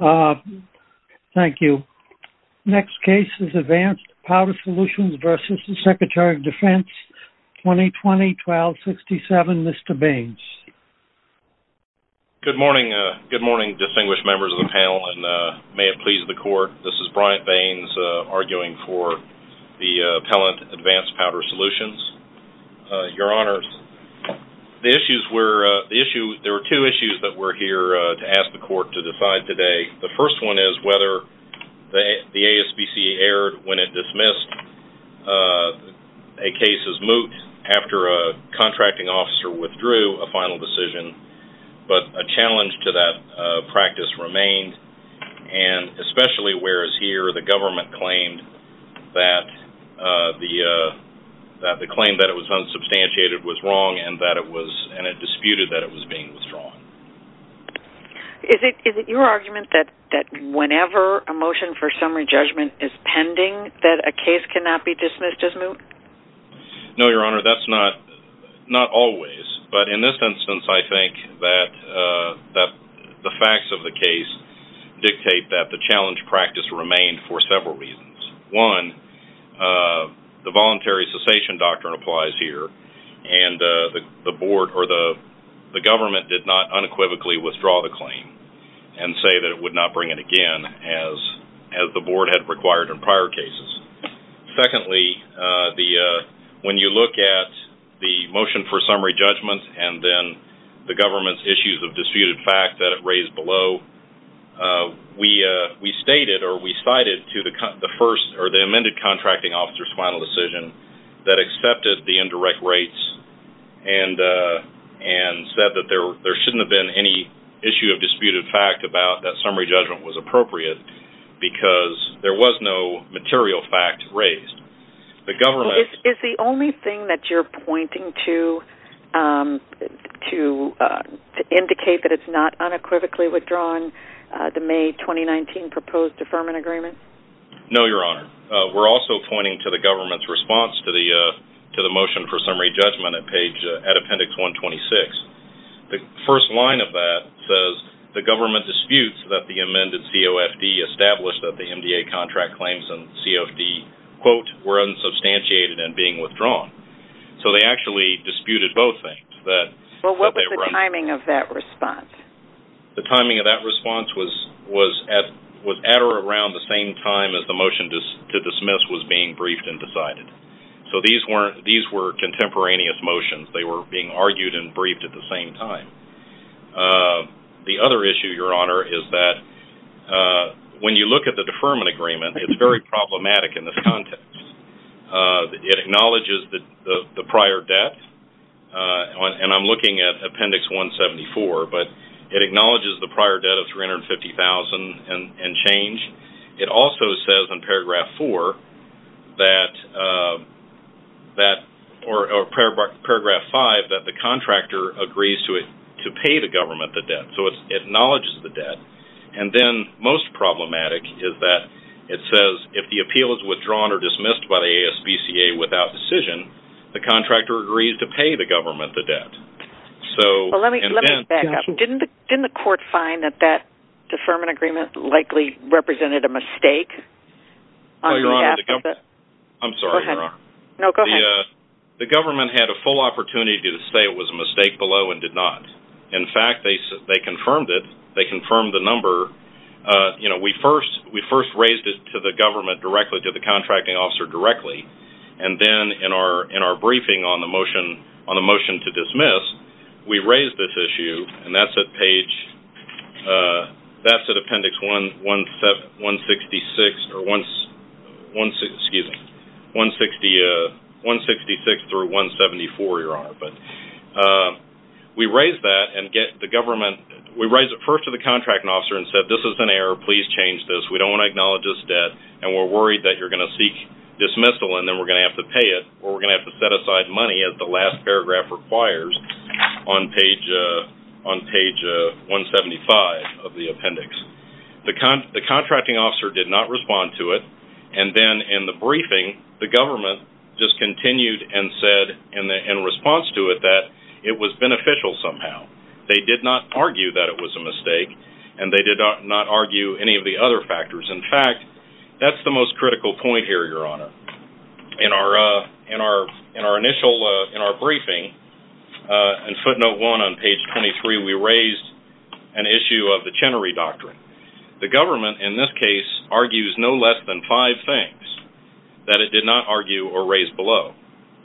2020-12-67, Mr. Baines. Good morning, distinguished members of the panel, and may it please the Court. This is Bryant Baines, arguing for the appellant, Advanced Powder Solutions. Your Honors, there were two issues that we're here to ask the Court to decide today. The first one is whether the ASPCA erred when it dismissed a case's moot after a contracting officer withdrew a final decision, but a challenge to that practice remained, and especially whereas here the government claimed that the claim that it was unsubstantiated was wrong and that it was, and it disputed that it was being withdrawn. Is it your argument that whenever a motion for summary judgment is pending that a facts of the case dictate that the challenge practice remained for several reasons? One, the voluntary cessation doctrine applies here, and the Board or the government did not unequivocally withdraw the claim and say that it would not bring it again as the Board had required in prior cases. Secondly, when you look at the motion for summary judgment and then the government's issues of disputed fact that were raised below, we cited the amended contracting officer's final decision that accepted the indirect rates and said that there shouldn't have been any issue of disputed fact about that summary judgment was appropriate because there was no material fact raised. Is the only thing that you're pointing to indicate that it's not unequivocally withdrawing the May 2019 proposed deferment agreement? No, Your Honor. We're also pointing to the government's response to the motion for summary judgment at appendix 126. The first line of that says the government disputes that the amended COFD established that the MDA contract claims and COFD, quote, were unsubstantiated and being withdrawn. So they actually disputed both things. Well, what was the timing of that response? The timing of that response was at or around the same time as the motion to dismiss was being briefed and decided. So these were contemporaneous motions. They were being argued and briefed at the same time. The other issue, Your Honor, is that when you look at the deferment agreement, it's very problematic in this context. It acknowledges the prior debt, and I'm looking at appendix 174, but it acknowledges the prior debt of $350,000 and change. It also says in appendix 174, the contractor agrees to pay the government the debt. So it acknowledges the debt. And then most problematic is that it says, if the appeal is withdrawn or dismissed by the ASBCA without decision, the contractor agrees to pay the government the debt. So, and then... Well, let me back up. Didn't the court find that that deferment agreement likely represented a mistake? No, Your Honor, the government... I'm sorry, Your Honor. No, the government did not. In fact, they confirmed it. They confirmed the number. You know, we first raised it to the government directly, to the contracting officer directly, and then in our briefing on the motion to dismiss, we raised this issue, and that's at page... that's at appendix 166... excuse me, 166 through 174, Your Honor. But we raised that, and the government... we raised it first to the contracting officer and said, this is an error. Please change this. We don't want to acknowledge this debt, and we're worried that you're going to seek dismissal, and then we're going to have to pay it, or we're going to have to set aside money, as the last paragraph requires, on page 175 of the appendix. The contracting officer did not respond to it, and then in the briefing, the government just continued and said in response to it that it was beneficial somehow. They did not argue that it was a mistake, and they did not argue any of the other factors. In fact, that's the most critical point here, Your Honor. In our initial... in our briefing, in footnote one on page 23, we raised an issue of the Chenery Doctrine. The government, in this case, argues no less than five things that it did not argue or raise below,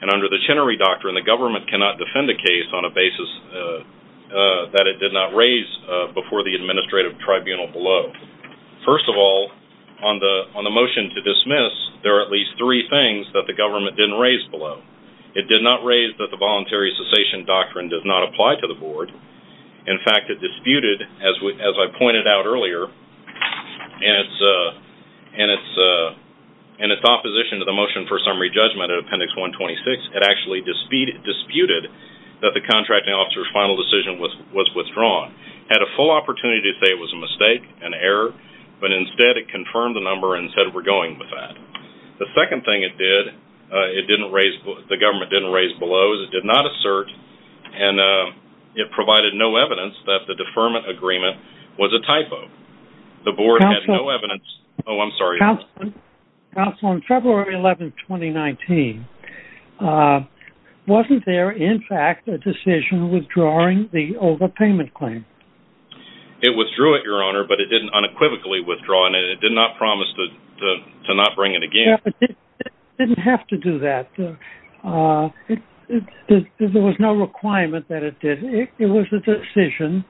and under the Chenery Doctrine, the government cannot defend a case on a basis that it did not raise before the government did not raise below. It did not raise that the Voluntary Cessation Doctrine does not apply to the board. In fact, it disputed, as I pointed out earlier, in its opposition to the Motion for Summary Judgment in Appendix 126, it actually disputed that the contracting officer's final decision was withdrawn. It had a full opportunity to say it was a mistake, an error, but instead it confirmed the number and said we're going with that. The second thing it did, it didn't raise... the government didn't raise below. It did not assert, and it provided no evidence that the deferment agreement was a typo. The board had no evidence... Oh, I'm sorry. Counsel, on February 11, 2019, wasn't there in fact a decision withdrawing the overpayment claim? It withdrew it, Your Honor, but it didn't unequivocally withdraw, and it did not promise to not bring it again. Yeah, but it didn't have to do that. There was no requirement that it did. It was a decision,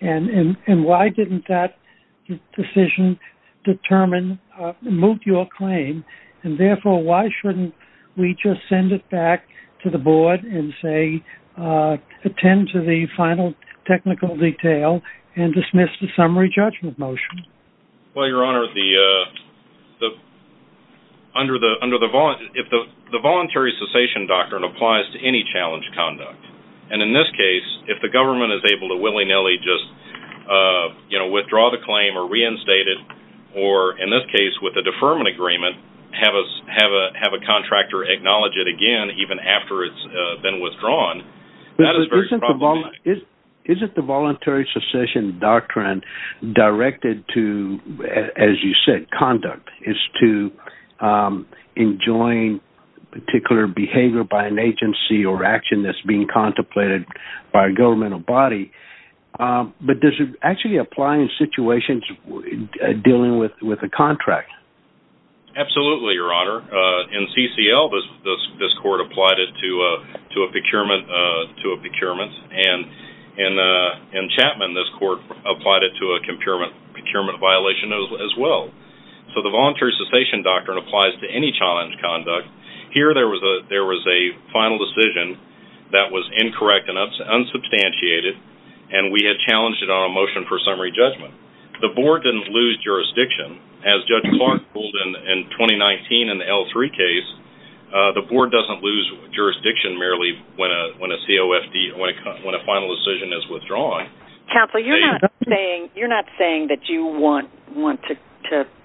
and why didn't that decision determine, move your claim, and therefore why shouldn't we just send it back to the board and say attend to the final technical detail and dismiss the summary judgment motion? Well, Your Honor, if the voluntary cessation doctrine applies to any challenge conduct, and in this case, if the government is able to willy-nilly just withdraw the claim or reinstate it, or in this case with the deferment agreement, have a contractor acknowledge it again even after it's been withdrawn, that is very problematic. Is it the voluntary cessation doctrine directed to, as you said, conduct, is to enjoin particular behavior by an agency or action that's being contemplated by a governmental body, but does it actually apply in situations dealing with a contractor? Absolutely, Your Honor. In CCL, this court applied it to a procurement, and in Chapman, this court applied it to a procurement violation as well. So the voluntary cessation doctrine applies to any challenge conduct. Here there was a final decision that was incorrect enough, unsubstantiated, and we had challenged it on a motion for summary judgment. The board didn't lose jurisdiction. As Judge Clark ruled in 2019 in the L3 case, the board doesn't lose jurisdiction merely when a COFD, when a final decision is withdrawn. Counsel, you're not saying that you want to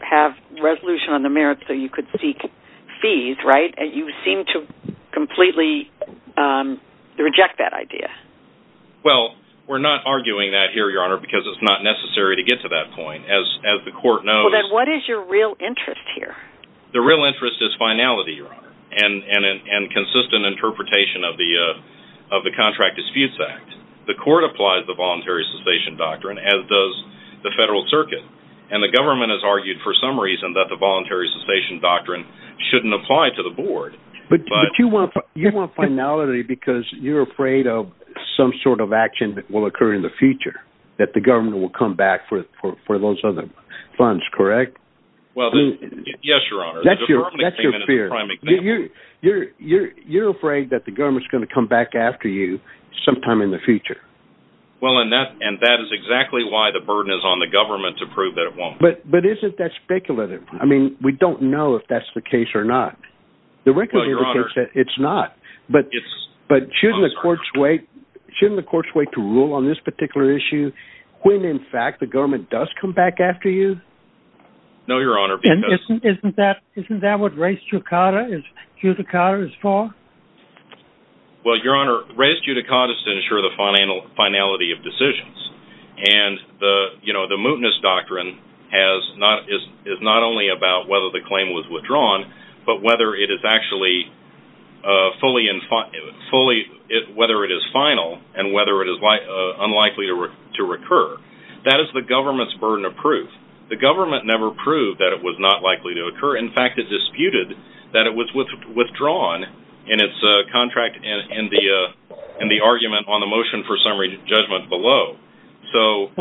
have resolution on the merits so you could seek fees, right? You seem to completely reject that idea. Well, we're not arguing that here, Your Honor, because it's not necessary to get to that point. As the court knows... Well, then what is your real interest here? The real interest is finality, Your Honor, and consistent interpretation of the Contract Disputes Act. The court applies the voluntary cessation doctrine, as does the federal circuit, and the government has argued for some reason that the voluntary cessation doctrine shouldn't apply to the board. But you want finality because you're afraid of some sort of action that will occur in the future, that the government will come back for those other funds, correct? Well, yes, Your Honor. That's your fear. You're afraid that the government's going to come back after you sometime in the future. Well, and that is exactly why the burden is on the government to prove that it won't. But isn't that speculative? I mean, we don't know if that's the case or not. The record indicates that it's not. But shouldn't the courts wait to rule on this particular issue when, in fact, the government does come back after you? No, Your Honor, because... Isn't that what res judicata is for? Well, Your Honor, res judicata is to ensure the finality of decisions. And the, you know, the mootness doctrine is not only about whether the claim was withdrawn, but whether it is actually fully, whether it is final and whether it is unlikely to recur. That is the government's burden of proof. The government never proved that it was not likely to occur. In fact, it disputed that it was withdrawn in its contract in the argument on the motion for summary judgment below.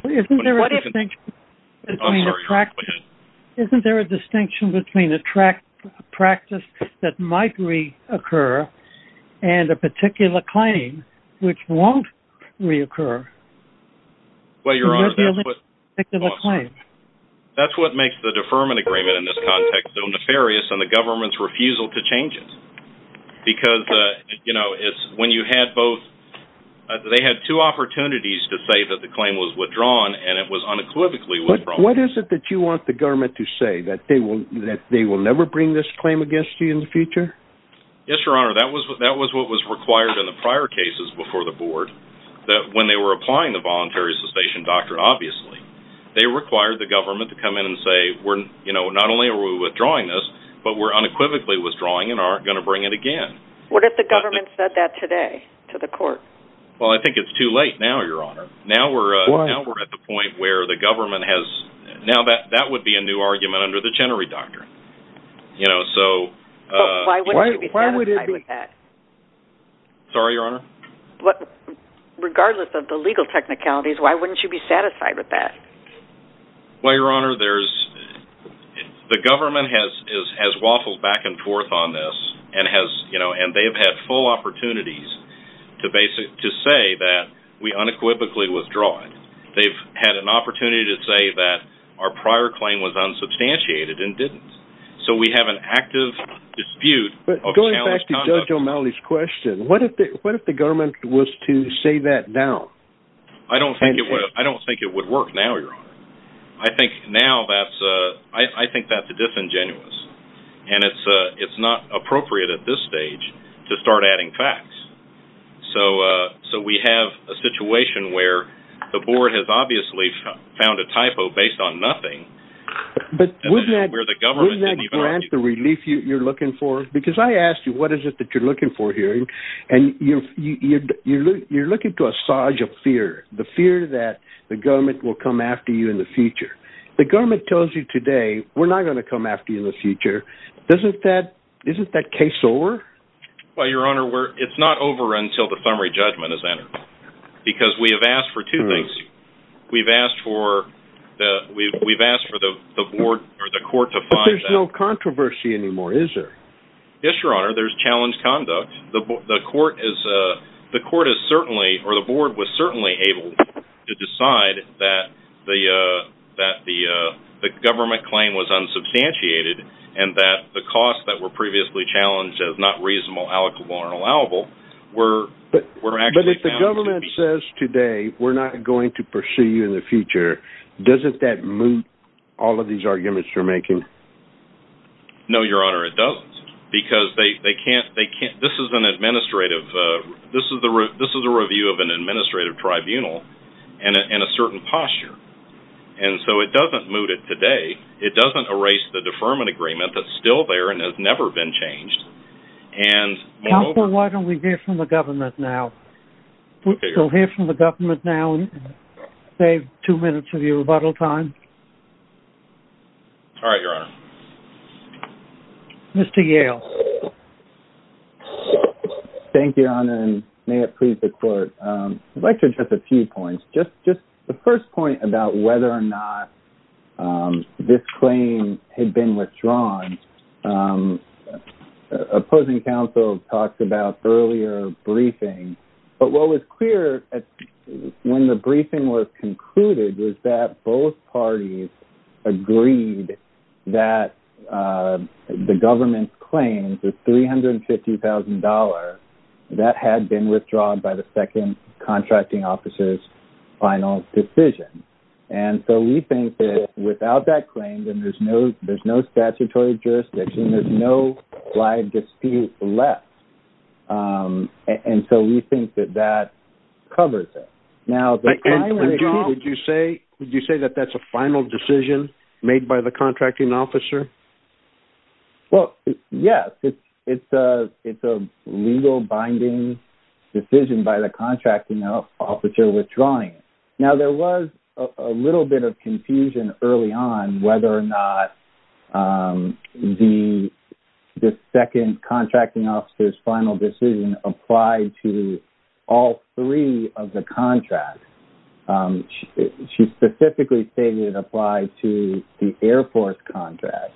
Isn't there a distinction between a practice that might reoccur and a particular claim which won't reoccur? Well, Your Honor, that's what makes the deferment agreement in this context so nefarious and the government's refusal to change it. Because, you know, when you had both, they had two opportunities to say that the claim was withdrawn and it was unequivocally withdrawn. But what is it that you want the government to say? That they will never bring this claim against you in the future? Yes, Your Honor, that was what was required in the prior cases before the board. That when they were applying the voluntary cessation doctrine, obviously, they required the government to come in and say, you know, not only are we withdrawing this, but we're unequivocally withdrawing it and aren't going to bring it again. What if the government said that today to the court? Well, I think it's too late now, Your Honor. Why? Now we're at the point where the government has, now that would be a new argument under the Chenery Doctrine. Why wouldn't you be satisfied with that? Sorry, Your Honor? Regardless of the legal technicalities, why wouldn't you be satisfied with that? Well, Your Honor, there's, the government has waffled back and forth on this and has, you know, and they have had full opportunities to say that we unequivocally withdraw it. They've had an opportunity to say that our prior claim was unsubstantiated and didn't. So we have an active dispute of challenged conduct. But going back to Judge O'Malley's question, what if the government was to say that now? I don't think it would work now, Your Honor. I think now that's, I think that's disingenuous. And it's not appropriate at this stage to start adding facts. So we have a situation where the board has obviously found a typo based on nothing. But wouldn't that grant the relief you're looking for? Because I asked you, what is it that you're looking for here? And you're looking to assuage a fear, the fear that the government will come after you in the future. The government tells you today, we're not going to come after you in the future. Doesn't that, isn't that case over? Well, Your Honor, it's not over until the summary judgment is entered. Because we have asked for two things. We've asked for the board or the court to find out. But there's no controversy anymore, is there? Yes, Your Honor, there's challenged conduct. The court is certainly, or the board was certainly able to decide that the government claim was unsubstantiated. And that the costs that were previously challenged as not reasonable, allocable, or allowable were actually found to be. But if the government says today, we're not going to pursue you in the future, doesn't that moot all of these arguments you're making? No, Your Honor, it doesn't. Because they can't, this is an administrative, this is a review of an administrative tribunal in a certain posture. And so it doesn't moot it today. It doesn't erase the deferment agreement that's still there and has never been changed. Counsel, why don't we hear from the government now? We'll hear from the government now and save two minutes of your rebuttal time. All right, Your Honor. Mr. Yale. Thank you, Your Honor, and may it please the court. I'd like to address a few points. Just the first point about whether or not this claim had been withdrawn. Opposing counsel talked about earlier briefings. But what was clear when the briefing was concluded was that both parties agreed that the government's claim, the $350,000, that had been withdrawn by the second contracting officer's final decision. And so we think that without that claim, then there's no statutory jurisdiction, there's no live dispute left. And so we think that that covers it. Now, the claim... And, John, would you say that that's a final decision made by the contracting officer? Well, yes. It's a legal binding decision by the contracting officer withdrawing it. Now, there was a little bit of confusion early on whether or not the second contracting officer's final decision applied to all three of the contracts. She specifically stated it applied to the airport contract.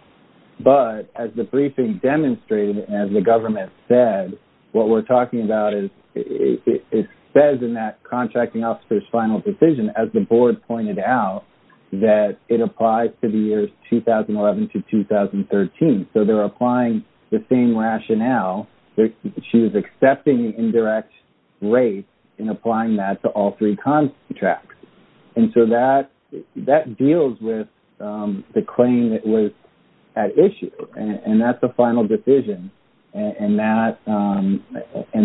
But as the briefing demonstrated and as the government said, what we're talking about is it says in that contracting officer's final decision, as the board pointed out, that it applies to the years 2011 to 2013. So they're applying the same rationale. She was accepting an indirect rate in applying that to all three contracts. And so that deals with the claim that was at issue. And that's a final decision. And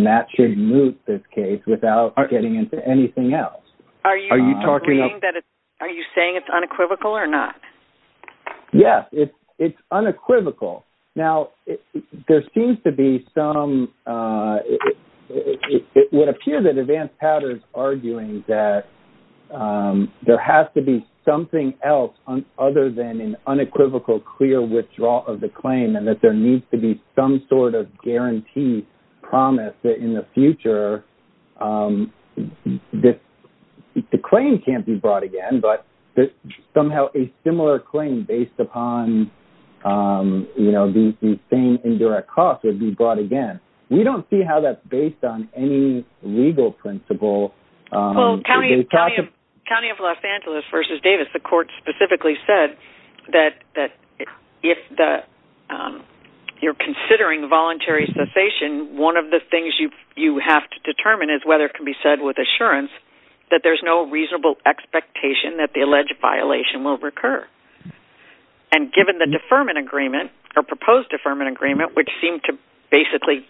that should move this case without getting into anything else. Are you saying it's unequivocal or not? Yes, it's unequivocal. Now, there seems to be some – it would appear that Advance Powder is arguing that there has to be something else other than an unequivocal, clear withdrawal of the claim and that there needs to be some sort of guarantee, promise that in the future the claim can't be brought again, but somehow a similar claim based upon the same indirect cost would be brought again. We don't see how that's based on any legal principle. Well, County of Los Angeles v. Davis, the court specifically said that if you're considering voluntary cessation, one of the things you have to determine is whether it can be said with assurance that there's no reasonable expectation that the alleged violation will recur. And given the deferment agreement, or proposed deferment agreement, which seemed to basically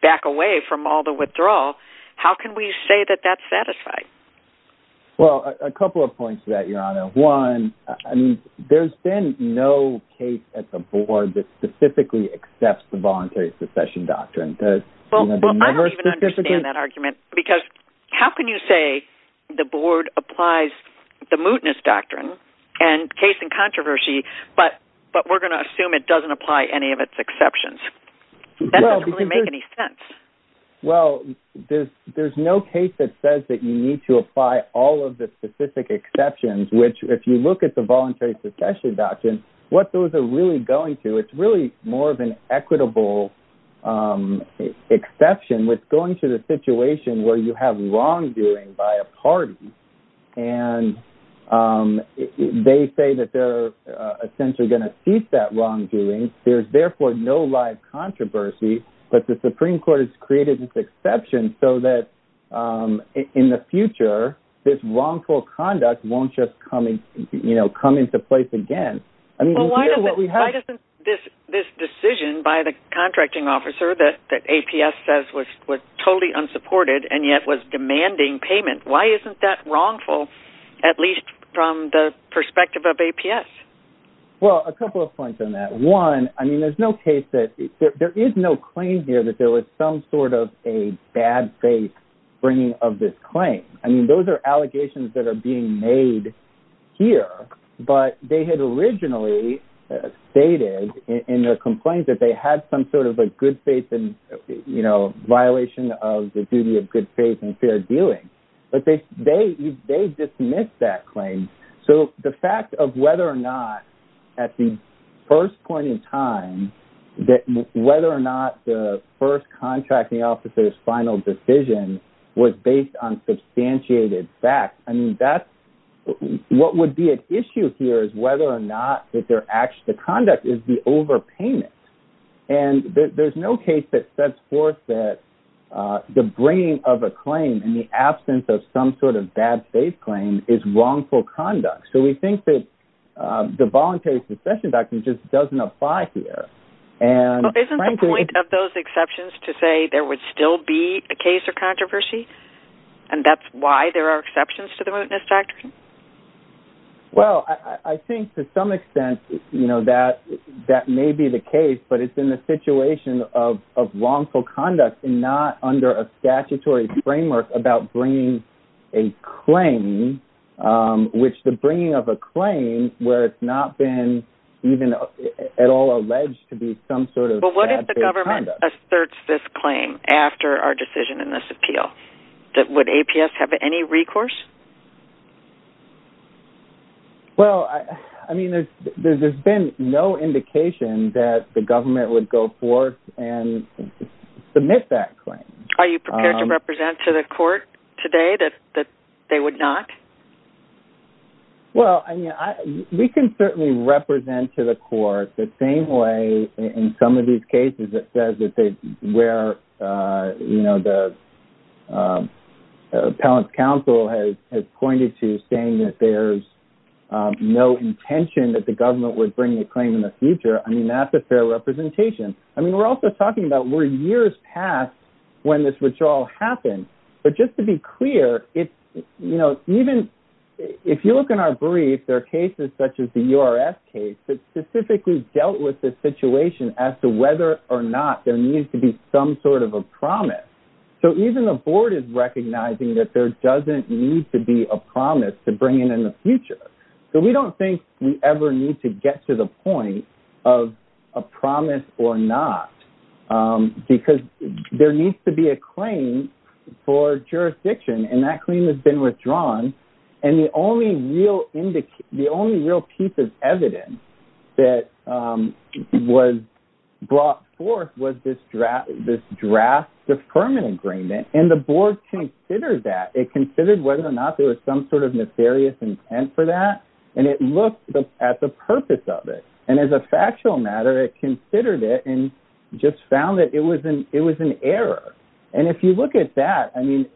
back away from all the withdrawal, how can we say that that's satisfied? Well, a couple of points to that, Your Honor. One, there's been no case at the board that specifically accepts the voluntary cessation doctrine. Well, I don't even understand that argument, because how can you say the board applies the mootness doctrine, and case in controversy, but we're going to assume it doesn't apply any of its exceptions? That doesn't really make any sense. Well, there's no case that says that you need to apply all of the specific exceptions, which if you look at the voluntary cessation doctrine, what those are really going to, it's really more of an equitable exception with going to the situation where you have wrongdoing by a party, and they say that they're essentially going to cease that wrongdoing, there's therefore no live controversy, but the Supreme Court has created this exception so that in the future, this wrongful conduct won't just come into place again. Well, why doesn't this decision by the contracting officer that APS says was totally unsupported and yet was demanding payment, why isn't that wrongful, at least from the perspective of APS? Well, a couple of points on that. One, I mean, there's no case that, there is no claim here that there was some sort of a bad faith bringing of this claim. I mean, those are allegations that are being made here, but they had originally stated in their complaint that they had some sort of a good faith and, you know, violation of the duty of good faith and fair dealing. But they dismissed that claim. So the fact of whether or not, at the first point in time, that whether or not the first contracting officer's final decision was based on substantiated facts, I mean, that's, what would be an issue here is whether or not the conduct is the overpayment. And there's no case that sets forth that the bringing of a claim in the absence of some sort of bad faith claim is wrongful conduct. So we think that the voluntary succession doctrine just doesn't apply here. Isn't the point of those exceptions to say there would still be a case of controversy? And that's why there are exceptions to the mootness doctrine? Well, I think to some extent, you know, that that may be the case, but it's in the situation of wrongful conduct and not under a statutory framework about bringing a claim, which the bringing of a claim where it's not been even at all alleged to be some sort of bad faith conduct. Asserts this claim after our decision in this appeal that would APS have any recourse? Well, I mean, there's been no indication that the government would go forth and submit that claim. Are you prepared to represent to the court today that they would not? Well, I mean, we can certainly represent to the court the same way in some of these cases that says that they were, you know, the appellate counsel has pointed to saying that there's no intention that the government would bring a claim in the future. I mean, that's a fair representation. I mean, we're also talking about where years past when this withdrawal happened. But just to be clear, it's, you know, even if you look in our brief, there are cases such as the U.R.S. case that specifically dealt with this situation as to whether or not there needs to be some sort of a promise. So even the board is recognizing that there doesn't need to be a promise to bring in in the future. So we don't think we ever need to get to the point of a promise or not, because there needs to be a claim for jurisdiction and that claim has been withdrawn. And the only real piece of evidence that was brought forth was this draft deferment agreement. And the board considered that. It considered whether or not there was some sort of nefarious intent for that. And it looked at the purpose of it. And as a factual matter, it considered it and just found that it was an error. And if you look at that, I mean,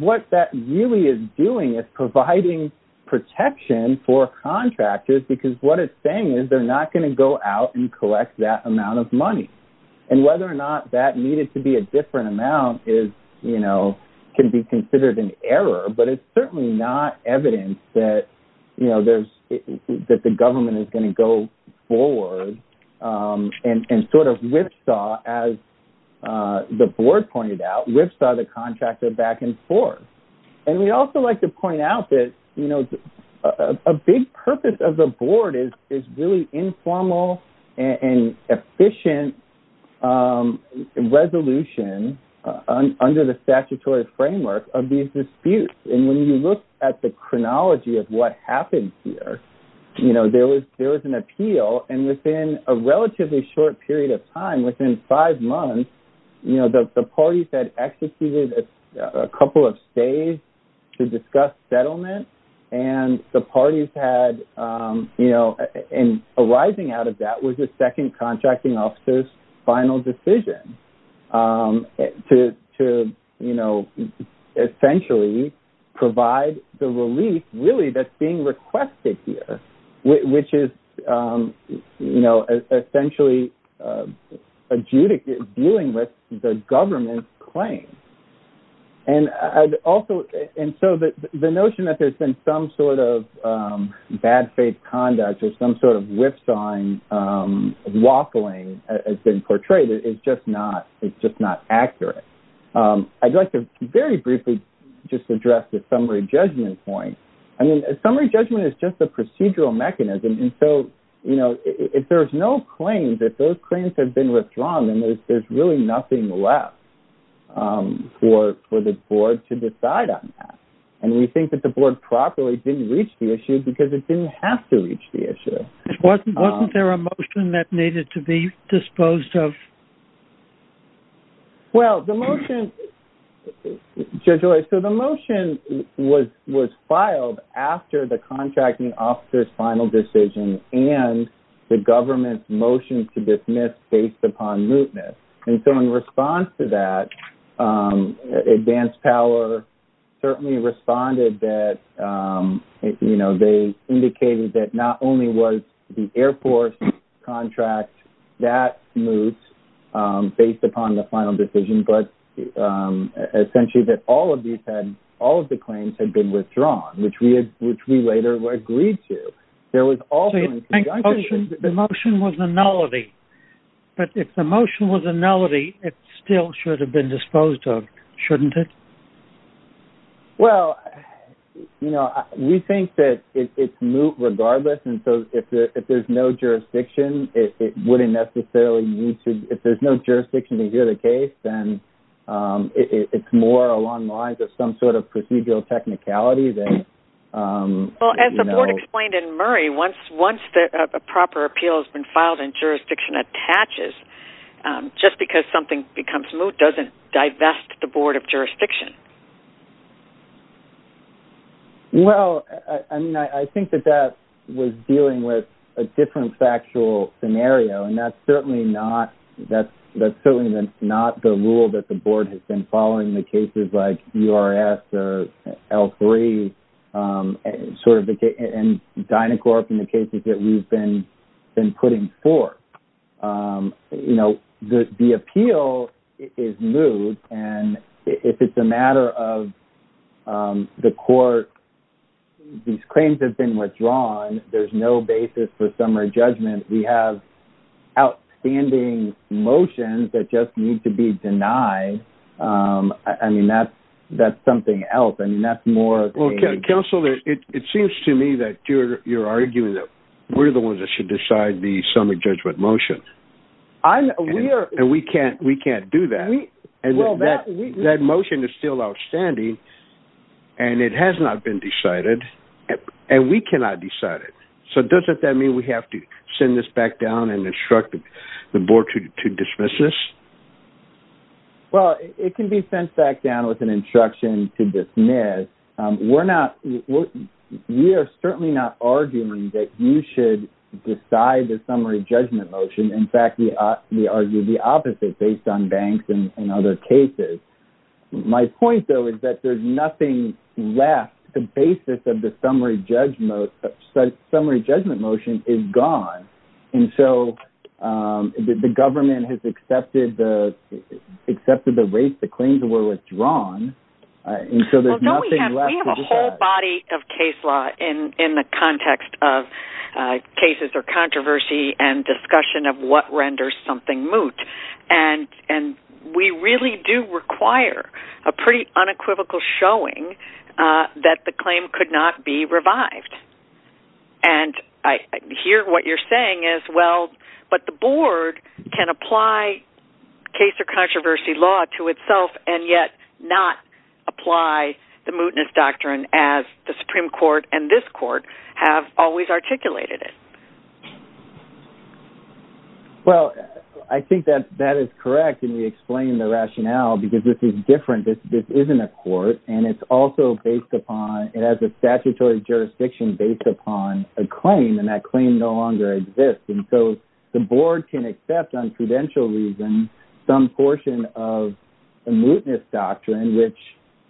what that really is doing is providing protection for contractors, because what it's saying is they're not going to go out and collect that amount of money. And whether or not that needed to be a different amount is, you know, can be considered an error. But it's certainly not evidence that, you know, there's that the government is going to go forward and sort of whipsaw, as the board pointed out, whipsaw the contractor back and forth. And we also like to point out that, you know, a big purpose of the board is really informal and efficient resolution under the statutory framework of these disputes. And when you look at the chronology of what happened here, you know, there was there was an appeal. And within a relatively short period of time, within five months, you know, the parties had executed a couple of stays to discuss settlement. And the parties had, you know, and arising out of that was the second contracting officer's final decision to, you know, essentially provide the relief really that's being requested here, which is, you know, essentially dealing with the government's claim. And also, and so the notion that there's been some sort of bad faith conduct or some sort of whipsawing, waffling has been portrayed is just not, it's just not accurate. I'd like to very briefly just address the summary judgment point. I mean, summary judgment is just a procedural mechanism. And so, you know, if there's no claims, if those claims have been withdrawn, then there's really nothing left for the board to decide on that. And we think that the board properly didn't reach the issue because it didn't have to reach the issue. Wasn't there a motion that needed to be disposed of? Well, the motion, Judge Loy, so the motion was filed after the contracting officer's final decision and the government's motion to dismiss based upon mootness. And so in response to that, Advanced Power certainly responded that, you know, they indicated that not only was the airport contract that moot based upon the final decision, but essentially that all of these had, all of the claims had been withdrawn, which we later agreed to. So you think the motion was a nullity? But if the motion was a nullity, it still should have been disposed of, shouldn't it? Well, you know, we think that it's moot regardless. And so if there's no jurisdiction, it wouldn't necessarily need to, if there's no jurisdiction to hear the case, then it's more along the lines of some sort of procedural technicality. Well, as the board explained in Murray, once a proper appeal has been filed and jurisdiction attaches, just because something becomes moot doesn't divest the board of jurisdiction. Well, I mean, I think that that was dealing with a different factual scenario, and that's certainly not the rule that the board has been following in the cases like URS or L3 and Dynacorp and the cases that we've been putting forth. You know, the appeal is moot. And if it's a matter of the court, these claims have been withdrawn. There's no basis for summary judgment. We have outstanding motions that just need to be denied. I mean, that's something else. I mean, that's more... We're the ones that should decide the summary judgment motion. And we can't do that. That motion is still outstanding, and it has not been decided, and we cannot decide it. So doesn't that mean we have to send this back down and instruct the board to dismiss this? Well, it can be sent back down with an instruction to dismiss. We are certainly not arguing that you should decide the summary judgment motion. In fact, we argue the opposite based on banks and other cases. My point, though, is that there's nothing left. The basis of the summary judgment motion is gone. And so the government has accepted the rates the claims were withdrawn, and so there's nothing left to decide. We have a whole body of case law in the context of cases or controversy and discussion of what renders something moot. And we really do require a pretty unequivocal showing that the claim could not be revived. And I hear what you're saying as well, but the board can apply case or controversy law to itself and yet not apply the mootness doctrine as the Supreme Court and this court have always articulated it. Well, I think that that is correct, and we explain the rationale because this is different. This isn't a court, and it's also based upon it has a statutory jurisdiction based upon a claim, and that claim no longer exists. And so the board can accept on prudential reason some portion of the mootness doctrine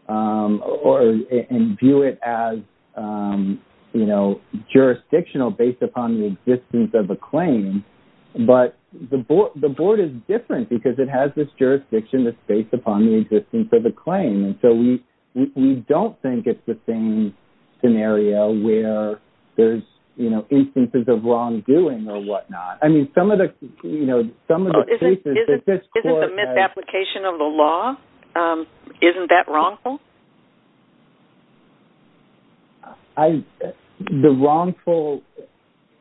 and view it as jurisdictional based upon the existence of a claim, but the board is different because it has this jurisdiction that's based upon the existence of a claim. And so we don't think it's the same scenario where there's instances of wrongdoing or whatnot. I mean, some of the cases that this court has... Isn't the misapplication of the law, isn't that wrongful? The wrongful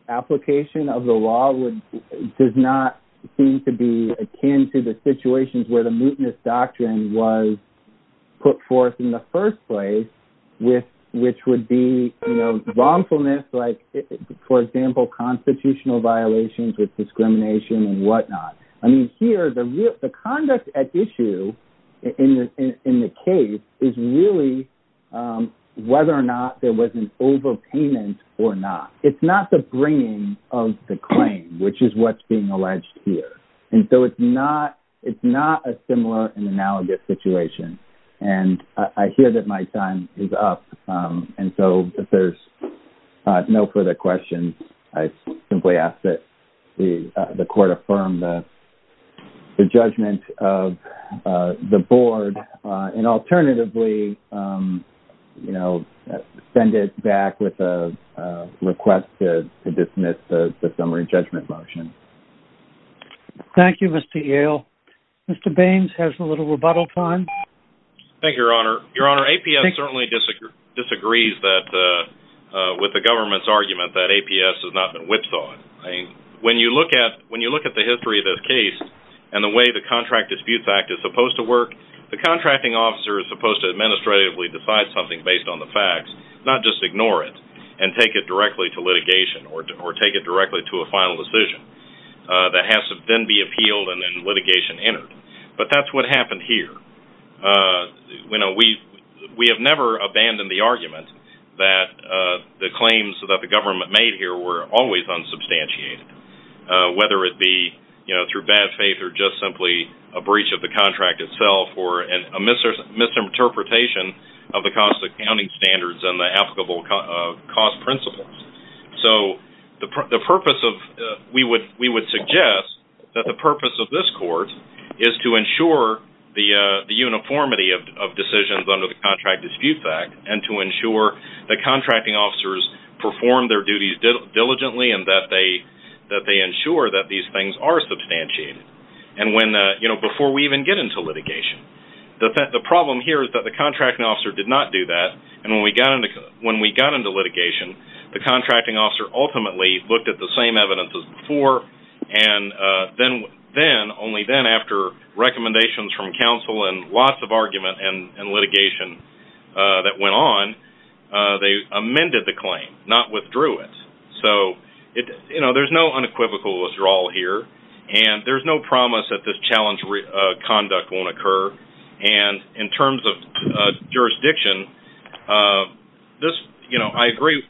application of the law does not seem to be akin to the situations where the mootness doctrine was put forth in the first place, which would be wrongfulness like, for example, constitutional violations with discrimination and whatnot. I mean, here, the conduct at issue in the case is really whether or not there was an overpayment or not. It's not the bringing of the claim, which is what's being alleged here. And so it's not a similar and analogous situation. And I hear that my time is up. And so if there's no further questions, I simply ask that the court affirm the judgment of the board. And alternatively, send it back with a request to dismiss the summary judgment motion. Thank you, Mr. Yale. Mr. Baines has a little rebuttal time. Thank you, Your Honor. Your Honor, APS certainly disagrees with the government's argument that APS has not been whipsawed. When you look at the history of this case and the way the Contract Disputes Act is supposed to work, the contracting officer is supposed to administratively decide something based on the facts, not just ignore it and take it directly to litigation or take it directly to a final decision that has to then be appealed and then litigation entered. But that's what happened here. We have never abandoned the argument that the claims that the government made here were always unsubstantiated, whether it be through bad faith or just simply a breach of the contract itself or a misinterpretation of the cost accounting standards and the applicable cost principles. So we would suggest that the purpose of this court is to ensure the uniformity of decisions under the Contract Disputes Act and to ensure that contracting officers perform their duties diligently and that they ensure that these things are substantiated before we even get into litigation. The problem here is that the contracting officer did not do that and when we got into litigation, the contracting officer ultimately looked at the same evidence as before and only then after recommendations from counsel and lots of argument and litigation that went on, they amended the claim, not withdrew it. So there's no unequivocal withdrawal here and there's no promise that this challenge conduct won't occur and in terms of jurisdiction,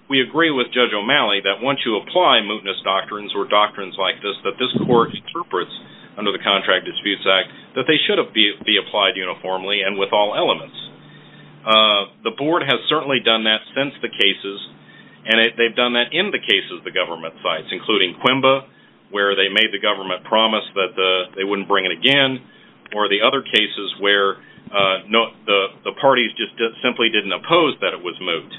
we agree with Judge O'Malley that once you apply mootness doctrines or doctrines like this, that this court interprets under the Contract Disputes Act that they should be applied uniformly and with all elements. The board has certainly done that since the cases and they've done that in the cases of the government sites including Quimba where they made the government promise that they wouldn't bring it again or the other cases where the parties just simply didn't oppose that it was moot.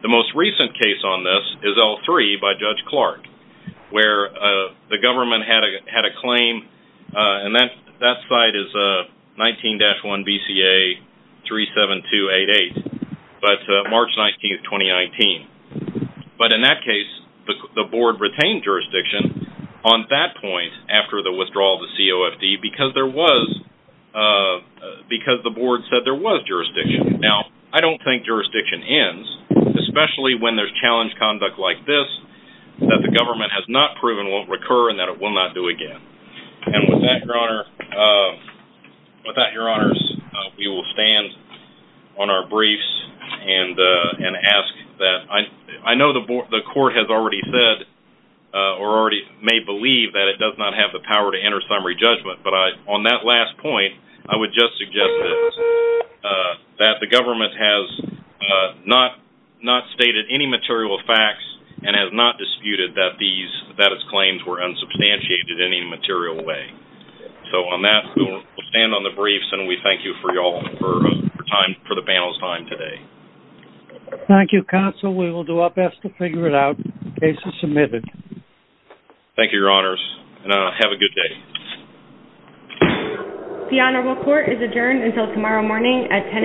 The most recent case on this is L3 by Judge Clark where the government had a claim and that site is 19-1 BCA 37288 but March 19, 2019. But in that case, the board retained jurisdiction on that point after the withdrawal of the COFD because the board said there was jurisdiction. Now, I don't think jurisdiction ends especially when there's challenge conduct like this that the government has not proven won't recur and that it will not do again. And with that, your honors, we will stand on our briefs and ask that I know the court has already said or already may believe that it does not have the power to enter summary judgment but on that last point, I would just suggest that the government has not stated any material facts and has not disputed that these claims were unsubstantiated in any material way. So on that, we'll stand on the briefs and we thank you for the panel's time today. Thank you, counsel. We will do our best to figure it out. The case is submitted. Thank you, your honors, and have a good day. The honorable court is adjourned until tomorrow morning at 10 a.m.